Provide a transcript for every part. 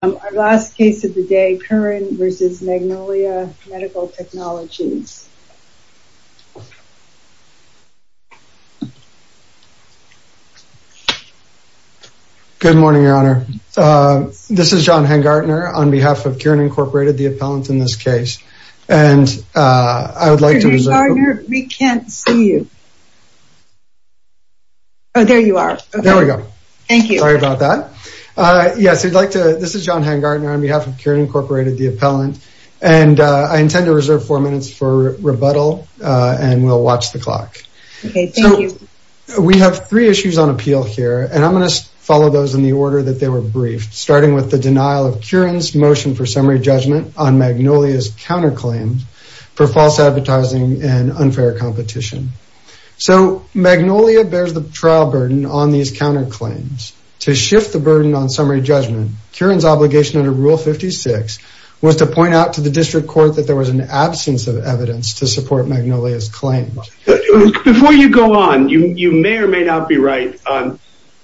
Our last case of the day, Kirin, v. Magnolia Medical Technologies. Good morning, Your Honor. This is John Hengartner on behalf of Kirin, Incorporated, the appellant in this case. And I would like to reserve the floor. Mr. Hengartner, we can't see you. Oh, there you are. There we go. Thank you. Sorry about that. Yes, we'd like to, this is John Hengartner on behalf of Kirin, Incorporated, the appellant. And I intend to reserve four minutes for rebuttal. And we'll watch the clock. Okay, thank you. We have three issues on appeal here. And I'm going to follow those in the order that they were briefed, starting with the denial of Kirin's motion for summary judgment on Magnolia's counterclaim for false advertising and unfair competition. So Magnolia bears the trial burden on these counterclaims. To shift the burden on summary judgment, Kirin's obligation under Rule 56 was to point out to the district court that there was an absence of evidence to support Magnolia's claims. Before you go on, you may or may not be right on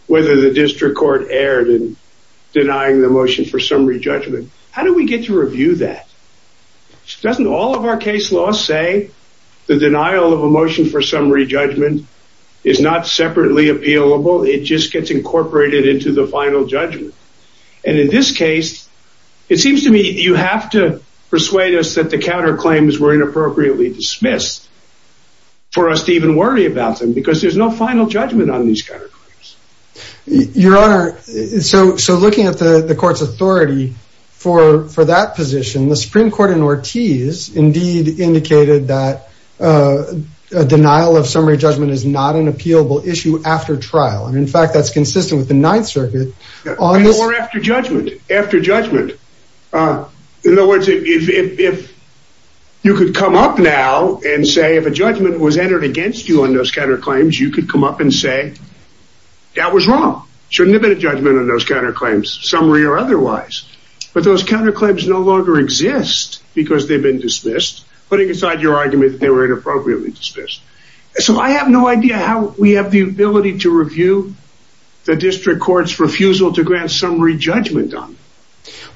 whether the district court erred in denying the motion for summary judgment. How do we get to review that? Doesn't all of our case law say the denial of a motion for summary judgment is not separately appealable? It just gets incorporated into the final judgment. And in this case, it seems to me you have to persuade us that the counterclaims were inappropriately dismissed for us to even worry about them, because there's no final judgment on these counterclaims. Your Honor, so looking at the court's authority for that position, the Supreme Court in Ortiz indeed indicated that a denial of summary judgment is not an appealable issue after trial. And in fact, that's consistent with the Ninth Circuit. Or after judgment. In other words, if you could come up now and say if a judgment was entered against you on those counterclaims, you could come up and say that was wrong. Shouldn't have been a judgment on those counterclaims, summary or otherwise. But those counterclaims no longer exist because they've been dismissed, putting aside your argument that appropriately dismissed. So I have no idea how we have the ability to review the district court's refusal to grant summary judgment on it.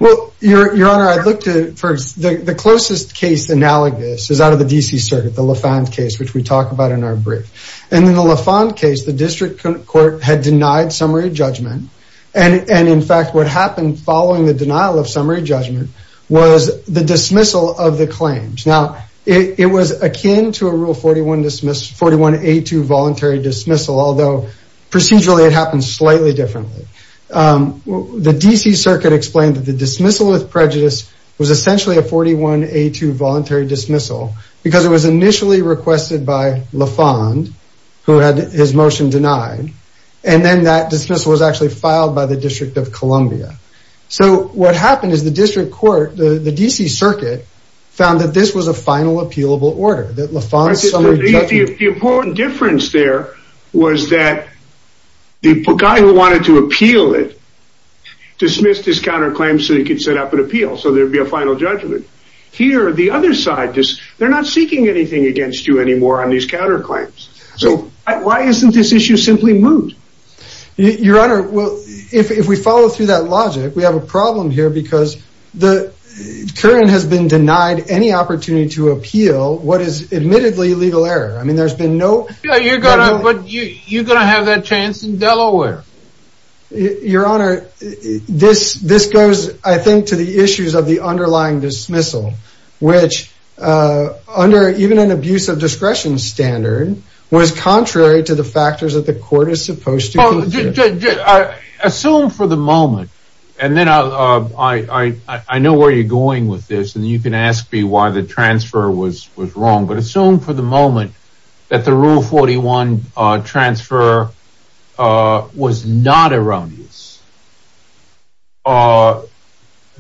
Well, Your Honor, I looked at the closest case analogous is out of the D.C. Circuit, the LaFond case, which we talk about in our brief. And in the LaFond case, the district court had denied summary judgment. And in fact, what happened following the denial of summary judgment was the dismissal of the claims. Now, it was akin to a Rule 41 dismissal, 41A2 voluntary dismissal, although procedurally it happened slightly differently. The D.C. Circuit explained that the dismissal of prejudice was essentially a 41A2 voluntary dismissal because it was initially requested by LaFond, who had his motion denied. And then that dismissal was actually filed by the District of Columbia. So what happened is the district court, the D.C. Circuit found that this was a final appealable order that LaFond summary judgment. The important difference there was that the guy who wanted to appeal it dismissed his counterclaims so he could set up an appeal, so there'd be a final judgment. Here, the other side, they're not seeking anything against you anymore on these counterclaims. So why isn't this issue simply moved? Your Honor, well, if we follow through that logic, we have a problem here because the current has been denied any opportunity to appeal what is admittedly legal error. I mean, there's been no. You're going to have that chance in Delaware. Your Honor, this goes, I think, to the issues of the underlying dismissal, which under even an abuse of discretion standard was contrary to the factors that the court is supposed to assume for the moment. And then I know where you're going with this. And you can ask me why the transfer was was wrong. But assume for the moment that the rule 41 transfer was not erroneous,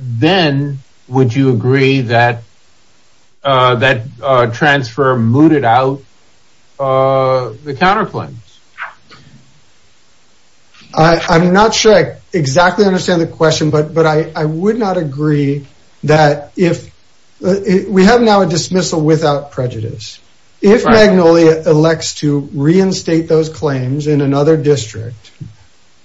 then would you agree that that transfer mooted out the counterclaims? I'm not sure I exactly understand the question, but I would not agree that if we have now a dismissal without prejudice, if Magnolia elects to reinstate those claims in another district,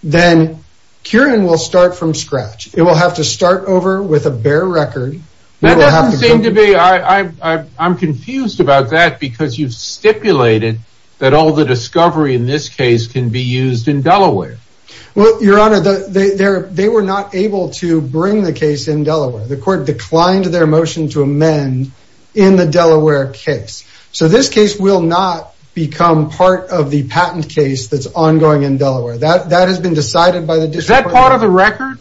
then Kieran will start from scratch. It will have to start over with a bare record. That doesn't seem to be I. I'm confused about that because you've stipulated that all the discovery in this case can be used in Delaware. Well, Your Honor, they were not able to bring the case in Delaware. The court declined their motion to amend in the Delaware case. So this case will not become part of the patent case that's ongoing in Delaware. That that has been decided by the district. Is that part of the record?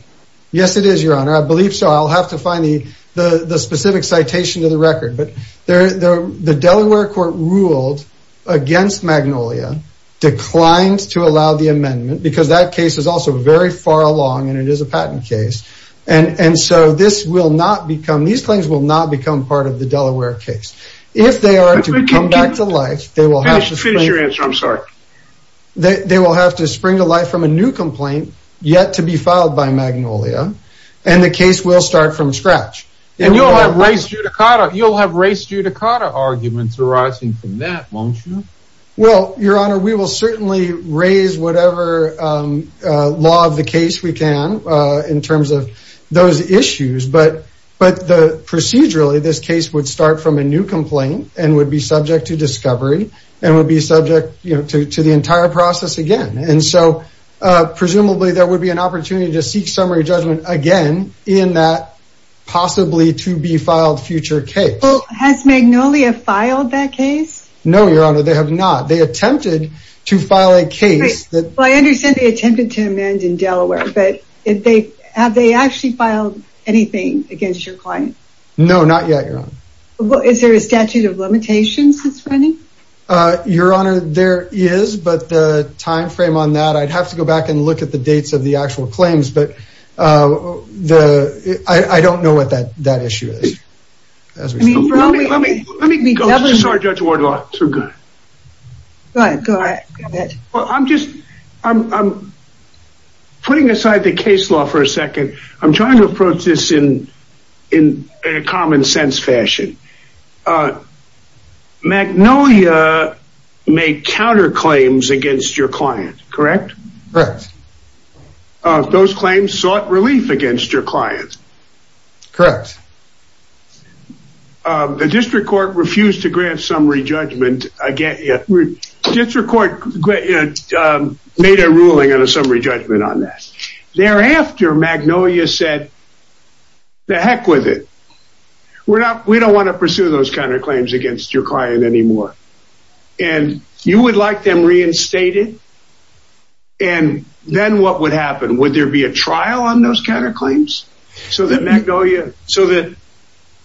Yes, it is, Your Honor. I believe so. I'll have to find the the specific citation to the record. But the Delaware court ruled against Magnolia, declined to allow the amendment because that case is also very far along and it is a patent case. And so this will not become these claims will not become part of the Delaware case. If they are to come back to life, they will have to finish your answer. I'm sorry that they will have to spring to life from a new complaint yet to be filed by Magnolia. And the case will start from scratch. And you'll have race judicata. You'll have race judicata arguments arising from that, won't you? Well, Your Honor, we will certainly raise whatever law of the case we can in terms of those issues. But but the procedurally, this case would start from a new complaint and would be subject to discovery and would be subject to the entire process again. And so presumably there would be an opportunity to seek summary judgment again in that possibly to be filed future case. Has Magnolia filed that case? No, Your Honor, they have not. They attempted to file a case. I understand they attempted to amend in Delaware, but have they actually filed anything against your client? No, not yet, Your Honor. Is there a statute of limitations that's running? Your Honor, there is. But the time frame on that, I'd have to go back and look at the dates of the actual claims. But I don't know what that that I'm putting aside the case law for a second. I'm trying to approach this in in a common sense fashion. Magnolia made counterclaims against your client, correct? Correct. Those claims sought relief against your client. Correct. The district court refused to grant summary judgment again. District court made a ruling on a summary judgment on that. Thereafter, Magnolia said, the heck with it. We're not we don't want to pursue those counterclaims against your client anymore. And you would like them reinstated? And then what would happen? Would there be a trial on those counterclaims? So that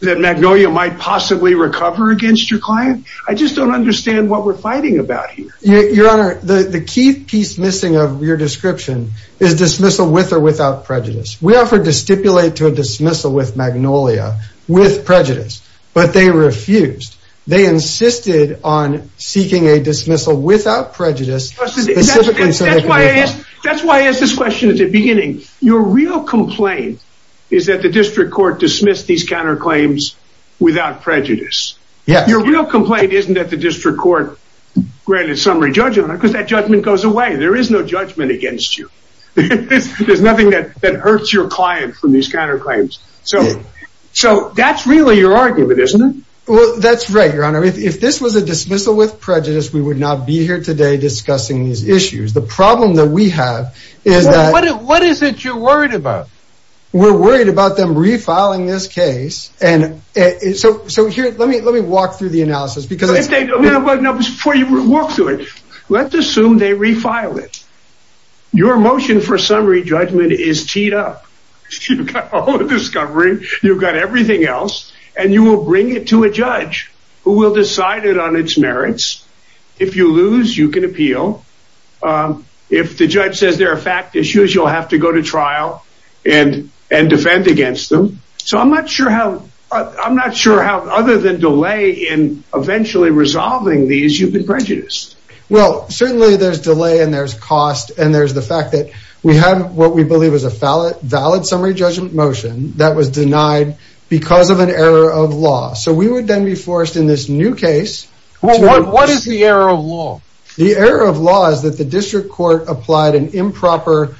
Magnolia might possibly recover against your client? I just don't understand what we're fighting about here. Your Honor, the key piece missing of your description is dismissal with or without prejudice. We offered to stipulate to a dismissal with Magnolia with prejudice, but they refused. They insisted on seeking a dismissal without prejudice. That's why I asked this question at the beginning. Your real complaint is that the district court dismissed these counterclaims without prejudice. Your real complaint isn't that the district court granted summary judgment because that judgment goes away. There is no judgment against you. There's nothing that hurts your client from these counterclaims. So that's really your argument, isn't it? Well, that's right, Your Honor. If this was a dismissal with prejudice, we would not be here today discussing these issues. The problem that we have is that... What is it you're worried about? We're worried about them refiling this case. Let me walk through the analysis. Before you walk through it, let's assume they refile it. Your motion for summary judgment is teed up. You've got all the discovery, you've got everything else, and you will bring it to a judge who will decide it on its merits. If you lose, you can appeal. If the judge says there are fact issues, you'll have to go to trial and defend against them. So I'm not sure how, other than delay in eventually resolving these, you've been prejudiced. Well, certainly there's delay, and there's cost, and there's the fact that we have what we believe is a valid summary judgment motion that was denied because of an error of law. So we would then be forced in this new case... What is the error of law? The error of law is that the district court applied an improper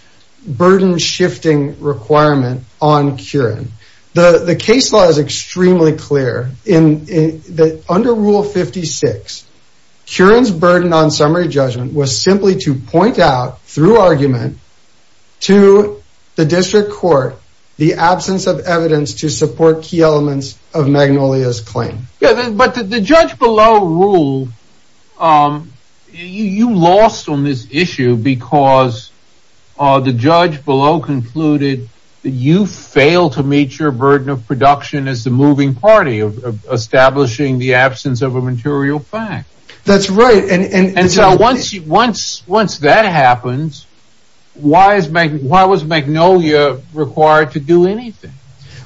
burden-shifting requirement on Curran. The case law is extremely clear. Under Rule 56, Curran's burden on summary judgment was simply to point out, through argument, to the district court the absence of evidence to support key elements of Magnolia's claim. But the judge below ruled, you lost on this issue because the judge below concluded that you failed to meet your burden of production as the moving party of establishing the absence of a material fact. That's right. And so once that happens, why was Magnolia required to do anything?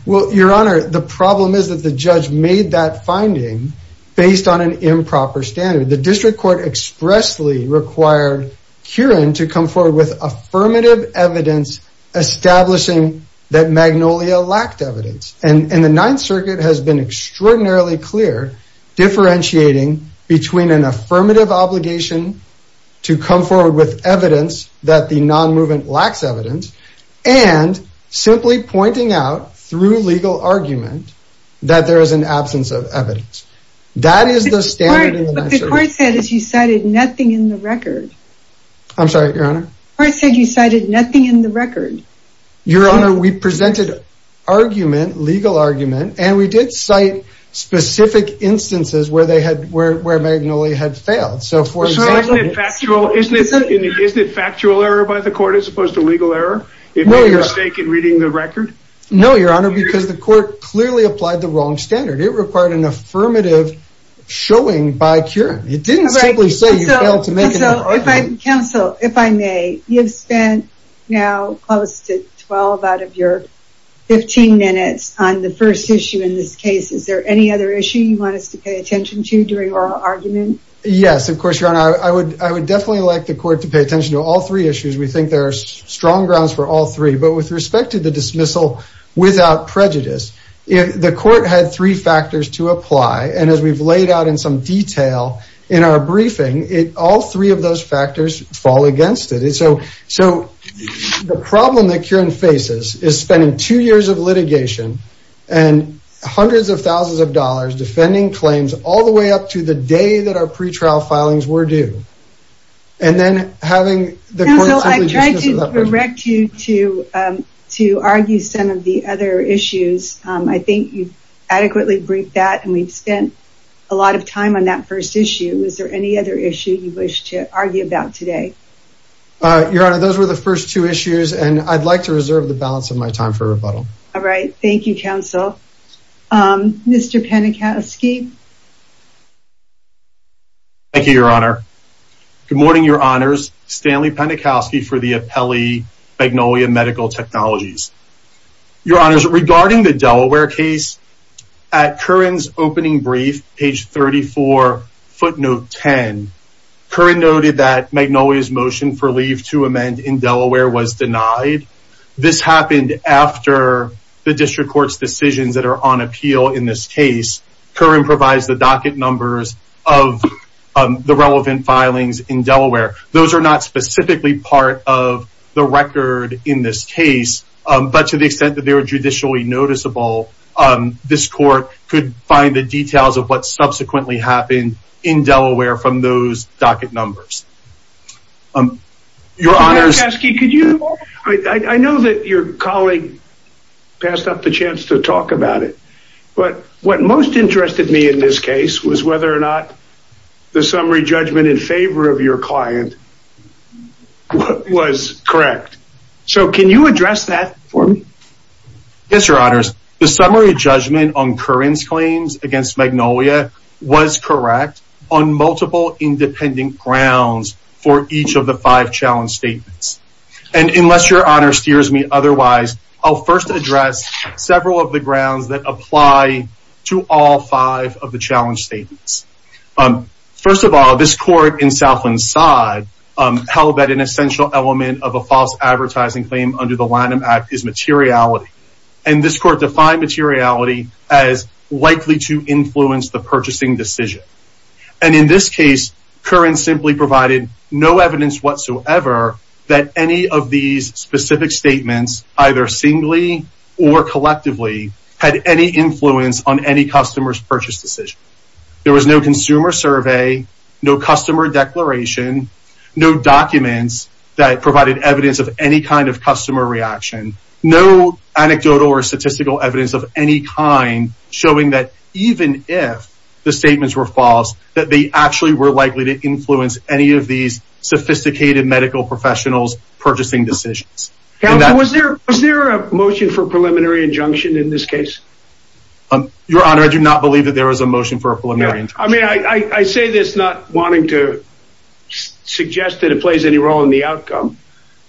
Well, Your Honor, the problem is that the judge made that finding based on an improper standard. The district court expressly required Curran to come forward with affirmative evidence establishing that Magnolia lacked evidence. And the Ninth Circuit has been extraordinarily clear, differentiating between an affirmative obligation to come forward with evidence that the non-movement lacks evidence, and simply pointing out, through legal argument, that there is an absence of evidence. That is the standard in the Ninth Circuit. But the court said that you cited nothing in the record. I'm sorry, Your Honor? The court said you cited nothing in the record. Your Honor, we presented argument, legal argument, and we did cite specific instances where Magnolia had failed. Isn't it factual error by the court as opposed to legal error? No, Your Honor, because the court clearly applied the wrong standard. It required an affirmative showing by Curran. It didn't simply say you failed to make an argument. Counsel, if I may, you've spent now close to 12 out of your 15 minutes on the first issue in this case. Yes, of course, Your Honor. I would definitely like the court to pay attention to all three issues. We think there are strong grounds for all three. But with respect to the dismissal without prejudice, the court had three factors to apply. And as we've laid out in some detail in our briefing, all three of those factors fall against it. So the problem that Curran faces is spending two years of litigation and hundreds of thousands of dollars defending claims all the way up to the day that our pretrial filings were due. Counsel, I tried to direct you to argue some of the other issues. I think you've adequately briefed that, and we've spent a lot of time on that first issue. Is there any other issue you wish to argue about today? Your Honor, those were the first two issues, and I'd like to reserve the balance of my time for rebuttal. All right. Thank you, Counsel. Mr. Penikowski. Thank you, Your Honor. Good morning, Your Honors. Stanley Penikowski for the Appellee Magnolia Medical Technologies. Your Honors, regarding the Delaware case, at Curran's opening brief, page 34, footnote 10, Curran noted that Magnolia's motion for leave to amend in Delaware was denied. This happened after the district court's decisions that are on appeal in this case. Curran provides the docket numbers of the relevant filings in Delaware. Those are not specifically part of the record in this case, but to the extent that they were judicially noticeable, this court could find the details of what subsequently happened in Delaware from those documents. Mr. Penikowski, I know that your colleague passed up the chance to talk about it, but what most interested me in this case was whether or not the summary judgment in favor of your client was correct. Can you address that for me? Yes, Your Honors. The summary judgment on Curran's claims against Magnolia was correct on multiple independent grounds for each of the five challenge statements. And unless Your Honor steers me otherwise, I'll first address several of the grounds that apply to all five of the challenge statements. First of all, this court in Southland Side held that an essential element of a false advertising claim under the Lanham Act is materiality. And this court defined materiality as likely to influence the purchasing decision. And in this that any of these specific statements, either singly or collectively, had any influence on any customer's purchase decision. There was no consumer survey, no customer declaration, no documents that provided evidence of any kind of customer reaction, no anecdotal or statistical evidence of any kind showing that even if the statements were false, that they actually were likely to influence any of these sophisticated medical professionals purchasing decisions. Now, was there a motion for preliminary injunction in this case? Your Honor, I do not believe that there was a motion for a preliminary injunction. I mean, I say this not wanting to suggest that it plays any role in the outcome.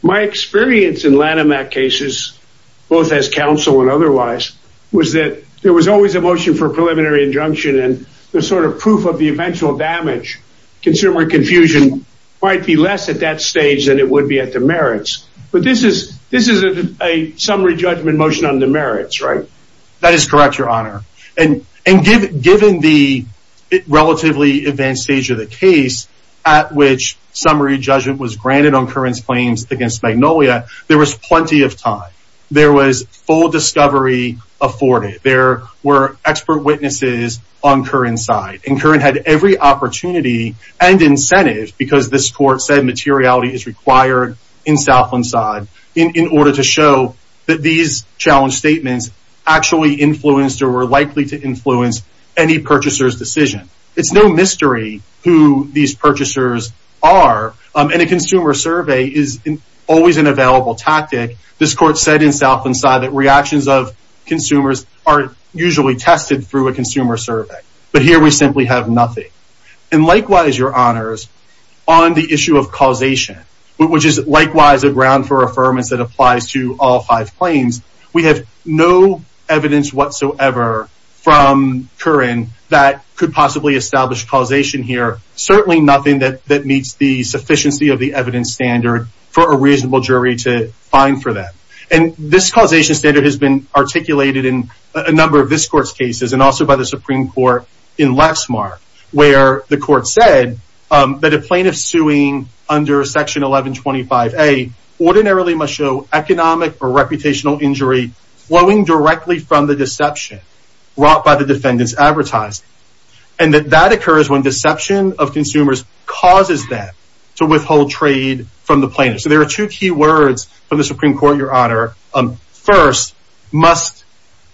My experience in Lanham Act cases, both as counsel and otherwise, was that there was always a motion for a preliminary injunction and the sort of proof of the eventual damage. Consumer confusion might be less at that stage than it would be at demerits. But this is a summary judgment motion on demerits, right? That is correct, Your Honor. And given the relatively advanced stage of the case at which summary judgment was granted on Curran's claims against Magnolia, there was plenty of time. There was full discovery afforded. There were expert witnesses on Curran's side. And Curran had every opportunity and incentive, because this court said materiality is required in Southland side, in order to show that these challenge statements actually influenced or were likely to influence any purchaser's decision. It's no mystery who these purchasers are. And a consumer survey is always an available tactic. This court said in Southland side that reactions of consumers are usually tested through a consumer survey. But here we simply have nothing. And likewise, Your Honors, on the issue of causation, which is likewise a ground for affirmance that applies to all five claims, we have no evidence whatsoever from Curran that could possibly establish causation here. Certainly nothing that meets the sufficiency of the evidence standard for a reasonable jury to find for that. And this causation standard has been articulated in a number of this court's cases and also by the Supreme Court in Lexmark, where the court said that a plaintiff suing under Section 1125A ordinarily must show economic or reputational injury flowing directly from the deception brought by the defendant's advertising. And that occurs when deception of consumers causes them to withhold trade from the plaintiff. So there are two key words from the Supreme Court, Your Honor. First, must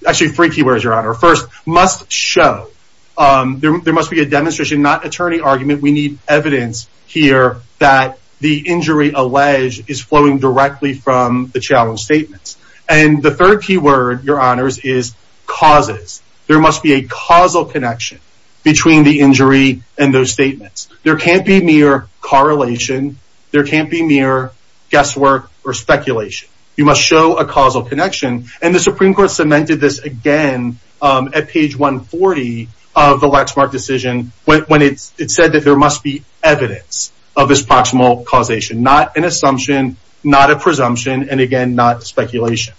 actually three keywords, Your Honor. First, must show. There must be a demonstration, not attorney argument. We need evidence here that the injury alleged is flowing directly from the challenge statements. And the third keyword, Your Honors, is causes. There must be a causal connection between the injury and those statements. There can't be mere correlation. There can't be mere guesswork or speculation. You must show a causal connection. And the Supreme Court cemented this again at page 140 of the Lexmark decision when it said that there must be evidence of this causation. Not an assumption, not a presumption, and again, not speculation.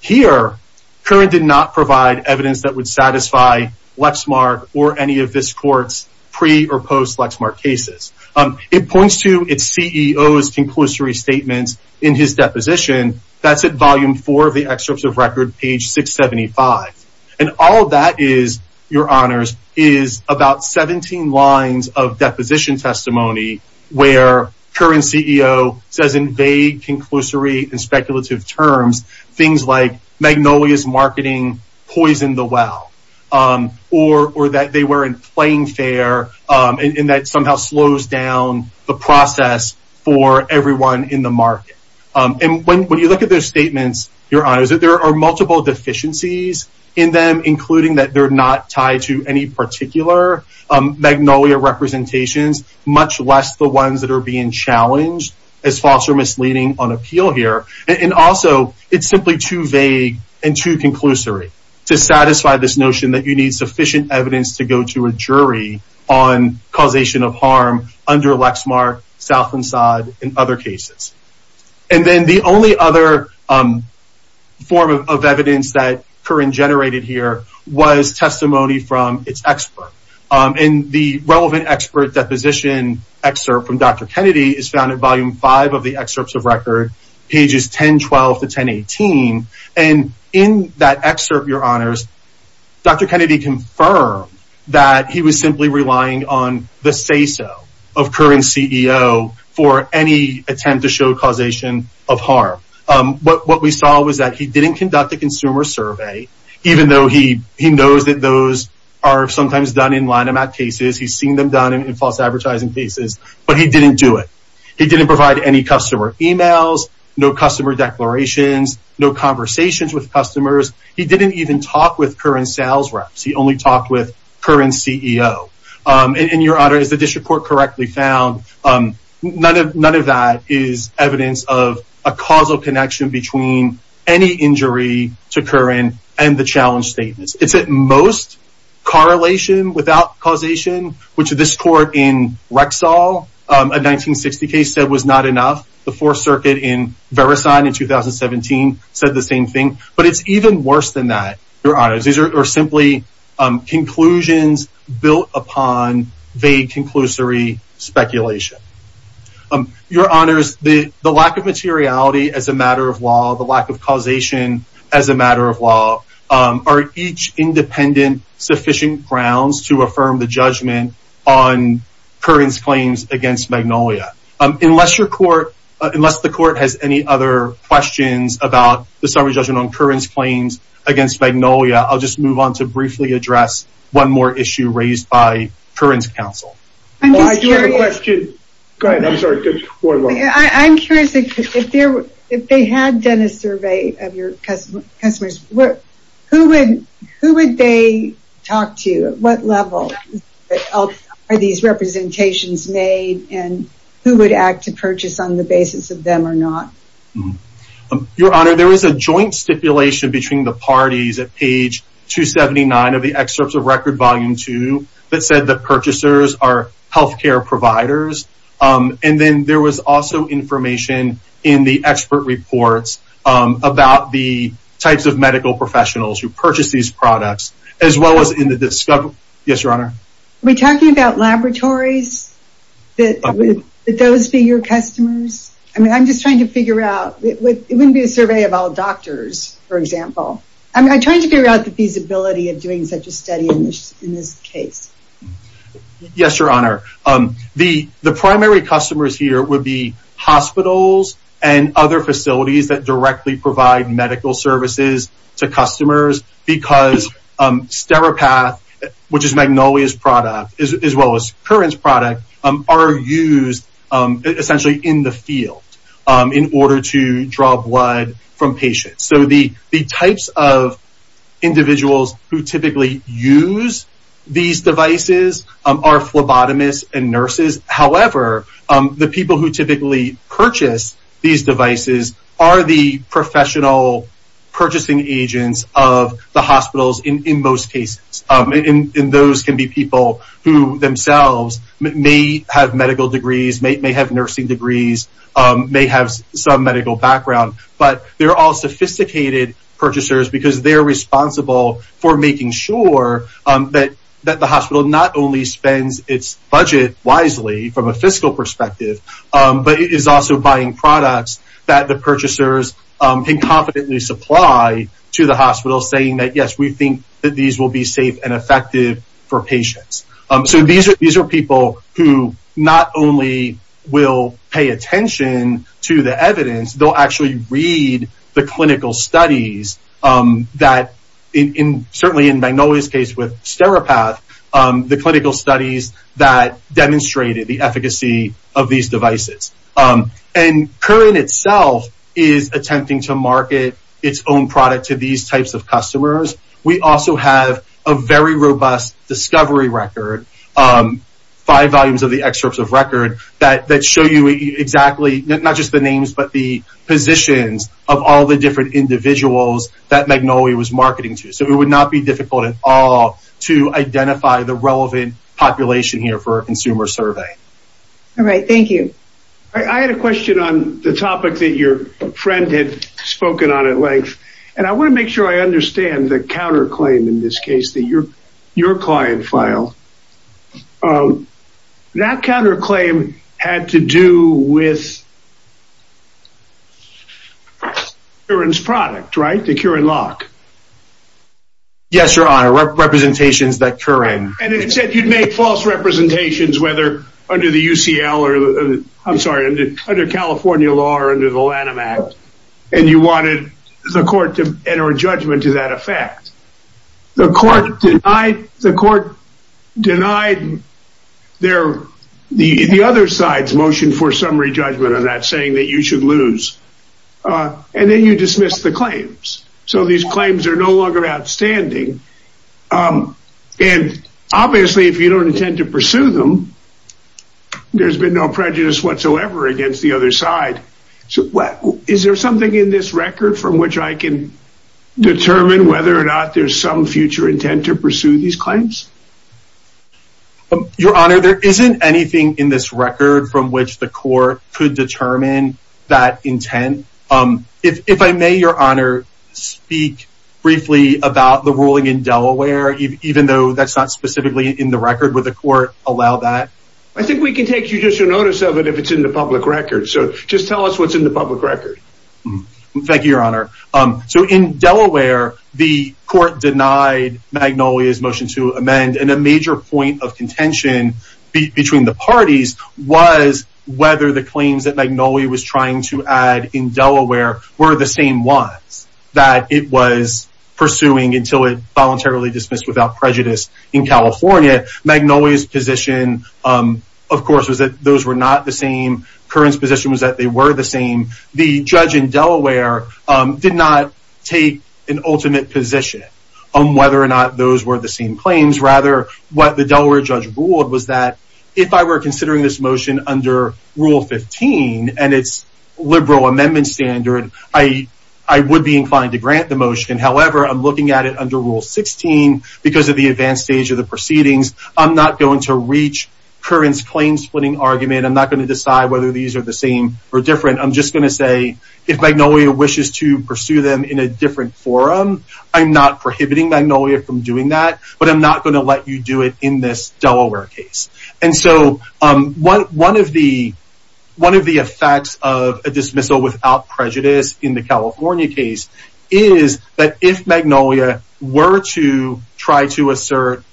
Here, Curran did not provide evidence that would satisfy Lexmark or any of this court's pre or post-Lexmark cases. It points to its CEO's conclusory statements in his deposition. That's at volume four of the excerpts of record, page 675. And all that is, Your Honors, is about 17 lines of deposition testimony where Curran's CEO says in vague, conclusory, and speculative terms, things like, Magnolia's marketing poisoned the well, or that they weren't playing fair, and that somehow slows down the process for everyone in the market. And when you look at those statements, Your Honors, that there are multiple deficiencies in them, including that they're not tied to any particular Magnolia representations, much less the ones that are being challenged as false or misleading on appeal here. And also, it's simply too vague and too conclusory to satisfy this notion that you need sufficient evidence to go to a jury on causation of harm under Lexmark, South and Sod, and other cases. And then the only other form of evidence that Curran generated here was testimony from its expert. And the relevant expert deposition excerpt from Dr. Kennedy is found at volume five of the excerpts of record, pages 1012 to 1018. And in that excerpt, Your Honors, Dr. Kennedy confirmed that he was simply relying on the say-so of Curran's CEO for any attempt to show causation of harm. What we saw was that he didn't conduct a consumer survey, even though he knows that those are sometimes done in line amount cases. He's seen them done in false advertising cases, but he didn't do it. He didn't provide any customer emails, no customer declarations, no conversations with customers. He didn't even talk with Curran sales reps. He only talked with Curran's CEO. And Your Honor, as the dish report correctly found, none of that is evidence of a causal connection between any injury to Curran and the challenge statements. It's at most correlation without causation, which this court in Rexall, a 1960 case said was not enough. The fourth circuit in Verisign in 2017 said the same thing, but it's worse than that, Your Honors. These are simply conclusions built upon vague conclusory speculation. Your Honors, the lack of materiality as a matter of law, the lack of causation as a matter of law are each independent sufficient grounds to affirm the judgment on Curran's claims against Magnolia. Unless the court has any other questions about the summary judgment on Curran's claims against Magnolia, I'll just move on to briefly address one more issue raised by Curran's counsel. I do have a question. Go ahead. I'm sorry. I'm curious, if they had done a survey of your customers, who would they talk to? At what level are these representations made and who would act to purchase on the basis of them or not? Your Honor, there is a joint stipulation between the parties at page 279 of the excerpts of record volume two that said the purchasers are health care providers. And then there was also information in the expert reports about the types of medical professionals who purchase these products, as well as in the discovery. Yes, Your Honor. Are we talking about laboratories? Would those be your customers? I'm just trying to figure out. It wouldn't be a survey of all doctors, for example. I'm trying to figure out the feasibility of doing such a study in this case. Yes, Your Honor. The primary customers here would be hospitals and other facilities that directly provide medical services to customers because Steripath, which is Magnolia's product, as well as Curran's product, are used essentially in the field in order to draw blood from patients. So, the types of individuals who typically use these devices are phlebotomists and nurses. However, the people who typically purchase these devices are the professional purchasing agents of the hospitals in most cases. And those can be people who themselves may have medical degrees, may have nursing degrees, may have some medical background. But they're all sophisticated purchasers because they're responsible for making sure that the hospital not only spends its budget wisely from a fiscal perspective, but is also buying products that the purchasers can confidently supply to the hospital, saying that, yes, we think that these will be safe and effective for patients. So, these are people who not only will pay attention to the evidence, they'll actually read the clinical studies that, certainly in Magnolia's case with Steripath, the clinical studies that demonstrated the efficacy of these devices. And Curran itself is attempting to market its own product to these types of customers. We also have a very robust discovery record, five volumes of the excerpts of record that show you exactly, not just the names, but the positions of all the different individuals that Magnolia was marketing to. So, it would not be difficult at all to identify the relevant population here for a consumer survey. All right. Thank you. I had a question on the topic that your friend had spoken on at length, and I want to make sure I understand the counterclaim in this case that your client filed. That counterclaim had to do with Curran's product, right? The Curran lock. Yes, Your Honor. Representations that Curran... And it said you'd make false representations, whether under the UCL or, I'm sorry, under California law or under the Lanham Act. And you wanted the court to enter a judgment to that effect. The court denied the other side's motion for summary judgment on that saying that you should lose. And then you dismissed the claims. So, these claims are no longer outstanding. And obviously, if you don't intend to pursue them, there's been no prejudice whatsoever against the other side. Is there something in this record from which I can determine whether or not there's some future intent to pursue these claims? Your Honor, there isn't anything in this record from which the court could determine that intent. If I may, Your Honor, speak briefly about the ruling in Delaware, even though that's not specifically in the record, would the court allow that? I think we can take judicial notice of it if it's in the public record. So, just tell us what's in the public record. Thank you, Your Honor. So, in Delaware, the court denied Magnolia's motion to amend. And a major point of contention between the parties was whether the claims that Magnolia was trying to add in Delaware were the same ones that it was pursuing until it voluntarily dismissed without prejudice in California. Magnolia's position, of course, was that those were not the same. Curran's position was that they were the same. The judge in Delaware did not take an ultimate position on whether or not those were the same claims. Rather, what the Delaware judge ruled was that if I were considering this motion under Rule 15 and its liberal amendment standard, I would be inclined to grant the motion. However, I'm looking at it under Rule 16 because of the advanced stage of the proceedings. I'm not going to reach Curran's claim-splitting argument. I'm not going to decide whether these are the same or different. I'm just going to say, if Magnolia wishes to pursue them in a different forum, I'm not prohibiting Magnolia from doing that, but I'm not going to let you do it in this Delaware case. And so, one of the effects of a dismissal without prejudice in the California case is that if Magnolia were to try to assert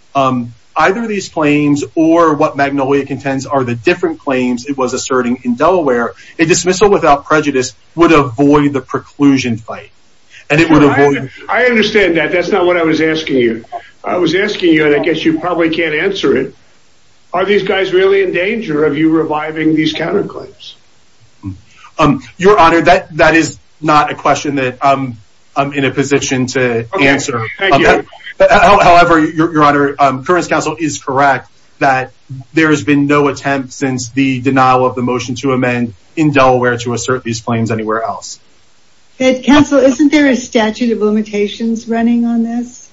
either of these claims or what Magnolia contends are the different claims it was asserting in Delaware, a dismissal without prejudice would avoid the preclusion fight. I understand that. That's not what I was asking you. I was asking you, and I guess you probably can't answer it. Are these guys really in danger of you reviving these counterclaims? Your Honor, that is not a question that I'm in a position to answer. However, Your Honor, Curran's counsel is correct that there has been no attempt since the denial of the motion to amend in Delaware to assert these claims anywhere else. Counsel, isn't there a statute of limitations running on this?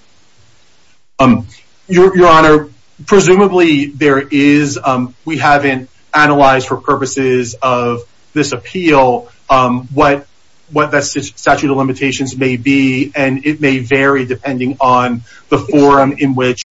Your Honor, presumably there is. We haven't analyzed for purposes of this appeal what that statute of limitations may be, and it may vary depending on the forum in which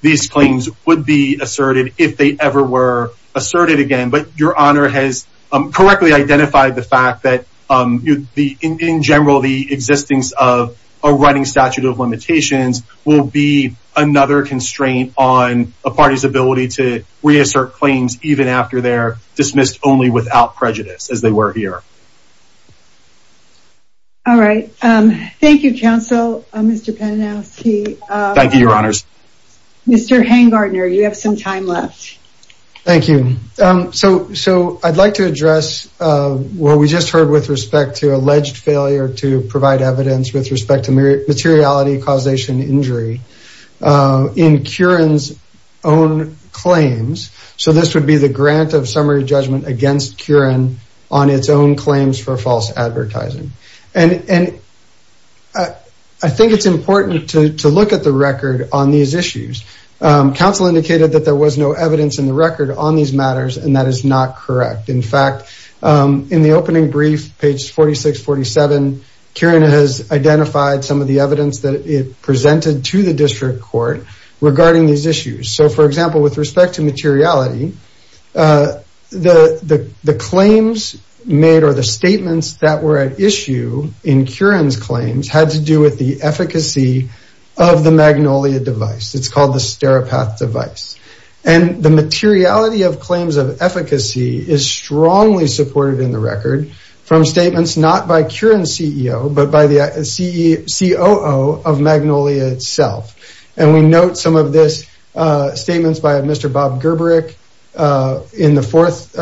these claims would be asserted if they ever were asserted again. But Your Honor has correctly identified the fact that, in general, the existence of a running statute of limitations will be another constraint on a party's ability to reassert claims even after they're dismissed only without prejudice, as they were here. All right. Thank you, Counsel. Mr. Penanowski. Thank you, Your Honors. Mr. Hangartner, you have some time left. Thank you. So I'd like to address what we just heard with respect to alleged failure to provide evidence with respect to materiality causation injury in Curran's own claims. So this would be the grant of summary judgment against Curran on its own claims for false advertising. And I think it's important to look at the record on these issues. Counsel indicated that there was no evidence in the record on these matters, and that is not correct. In fact, in the opening brief, page 46-47, Curran has identified some of the evidence that it presented to the district court regarding these issues. So for example, with respect to materiality, the claims made or the statements that were at issue in Curran's claims had to do with the efficacy of the Magnolia device. It's called the Steripath device. And the materiality of claims of efficacy is strongly supported in the record from statements not by Curran's CEO, but by the COO of Magnolia itself. And we note some of these statements by Mr. Bob Gerberich in the fourth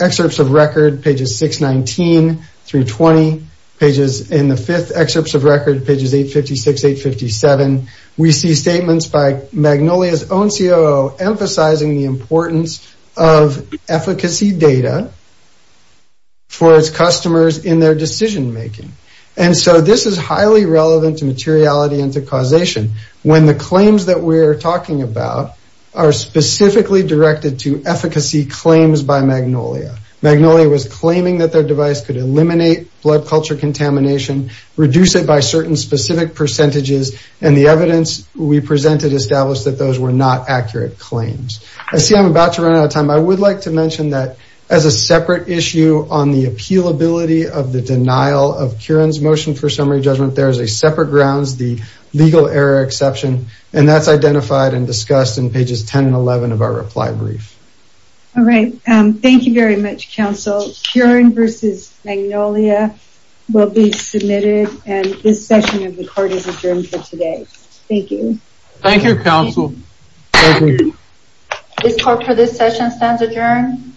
excerpts of record, pages 856-857. We see statements by Magnolia's own COO emphasizing the importance of efficacy data for its customers in their decision making. And so this is highly relevant to materiality and to causation when the claims that we're talking about are specifically directed to efficacy claims by Magnolia. Magnolia was claiming that their device could eliminate blood culture contamination, reduce it by certain specific percentages, and the evidence we presented established that those were not accurate claims. I see I'm about to run out of time. I would like to mention that as a separate issue on the appealability of the denial of Curran's motion for summary judgment, there is a separate grounds, the legal error exception, and that's identified and discussed in pages 10 and 11 of our reply brief. All right. Thank you very much, counsel. Curran versus Magnolia will be submitted, and this session of the court is adjourned for today. Thank you. Thank you, counsel. This court for this session stands adjourned.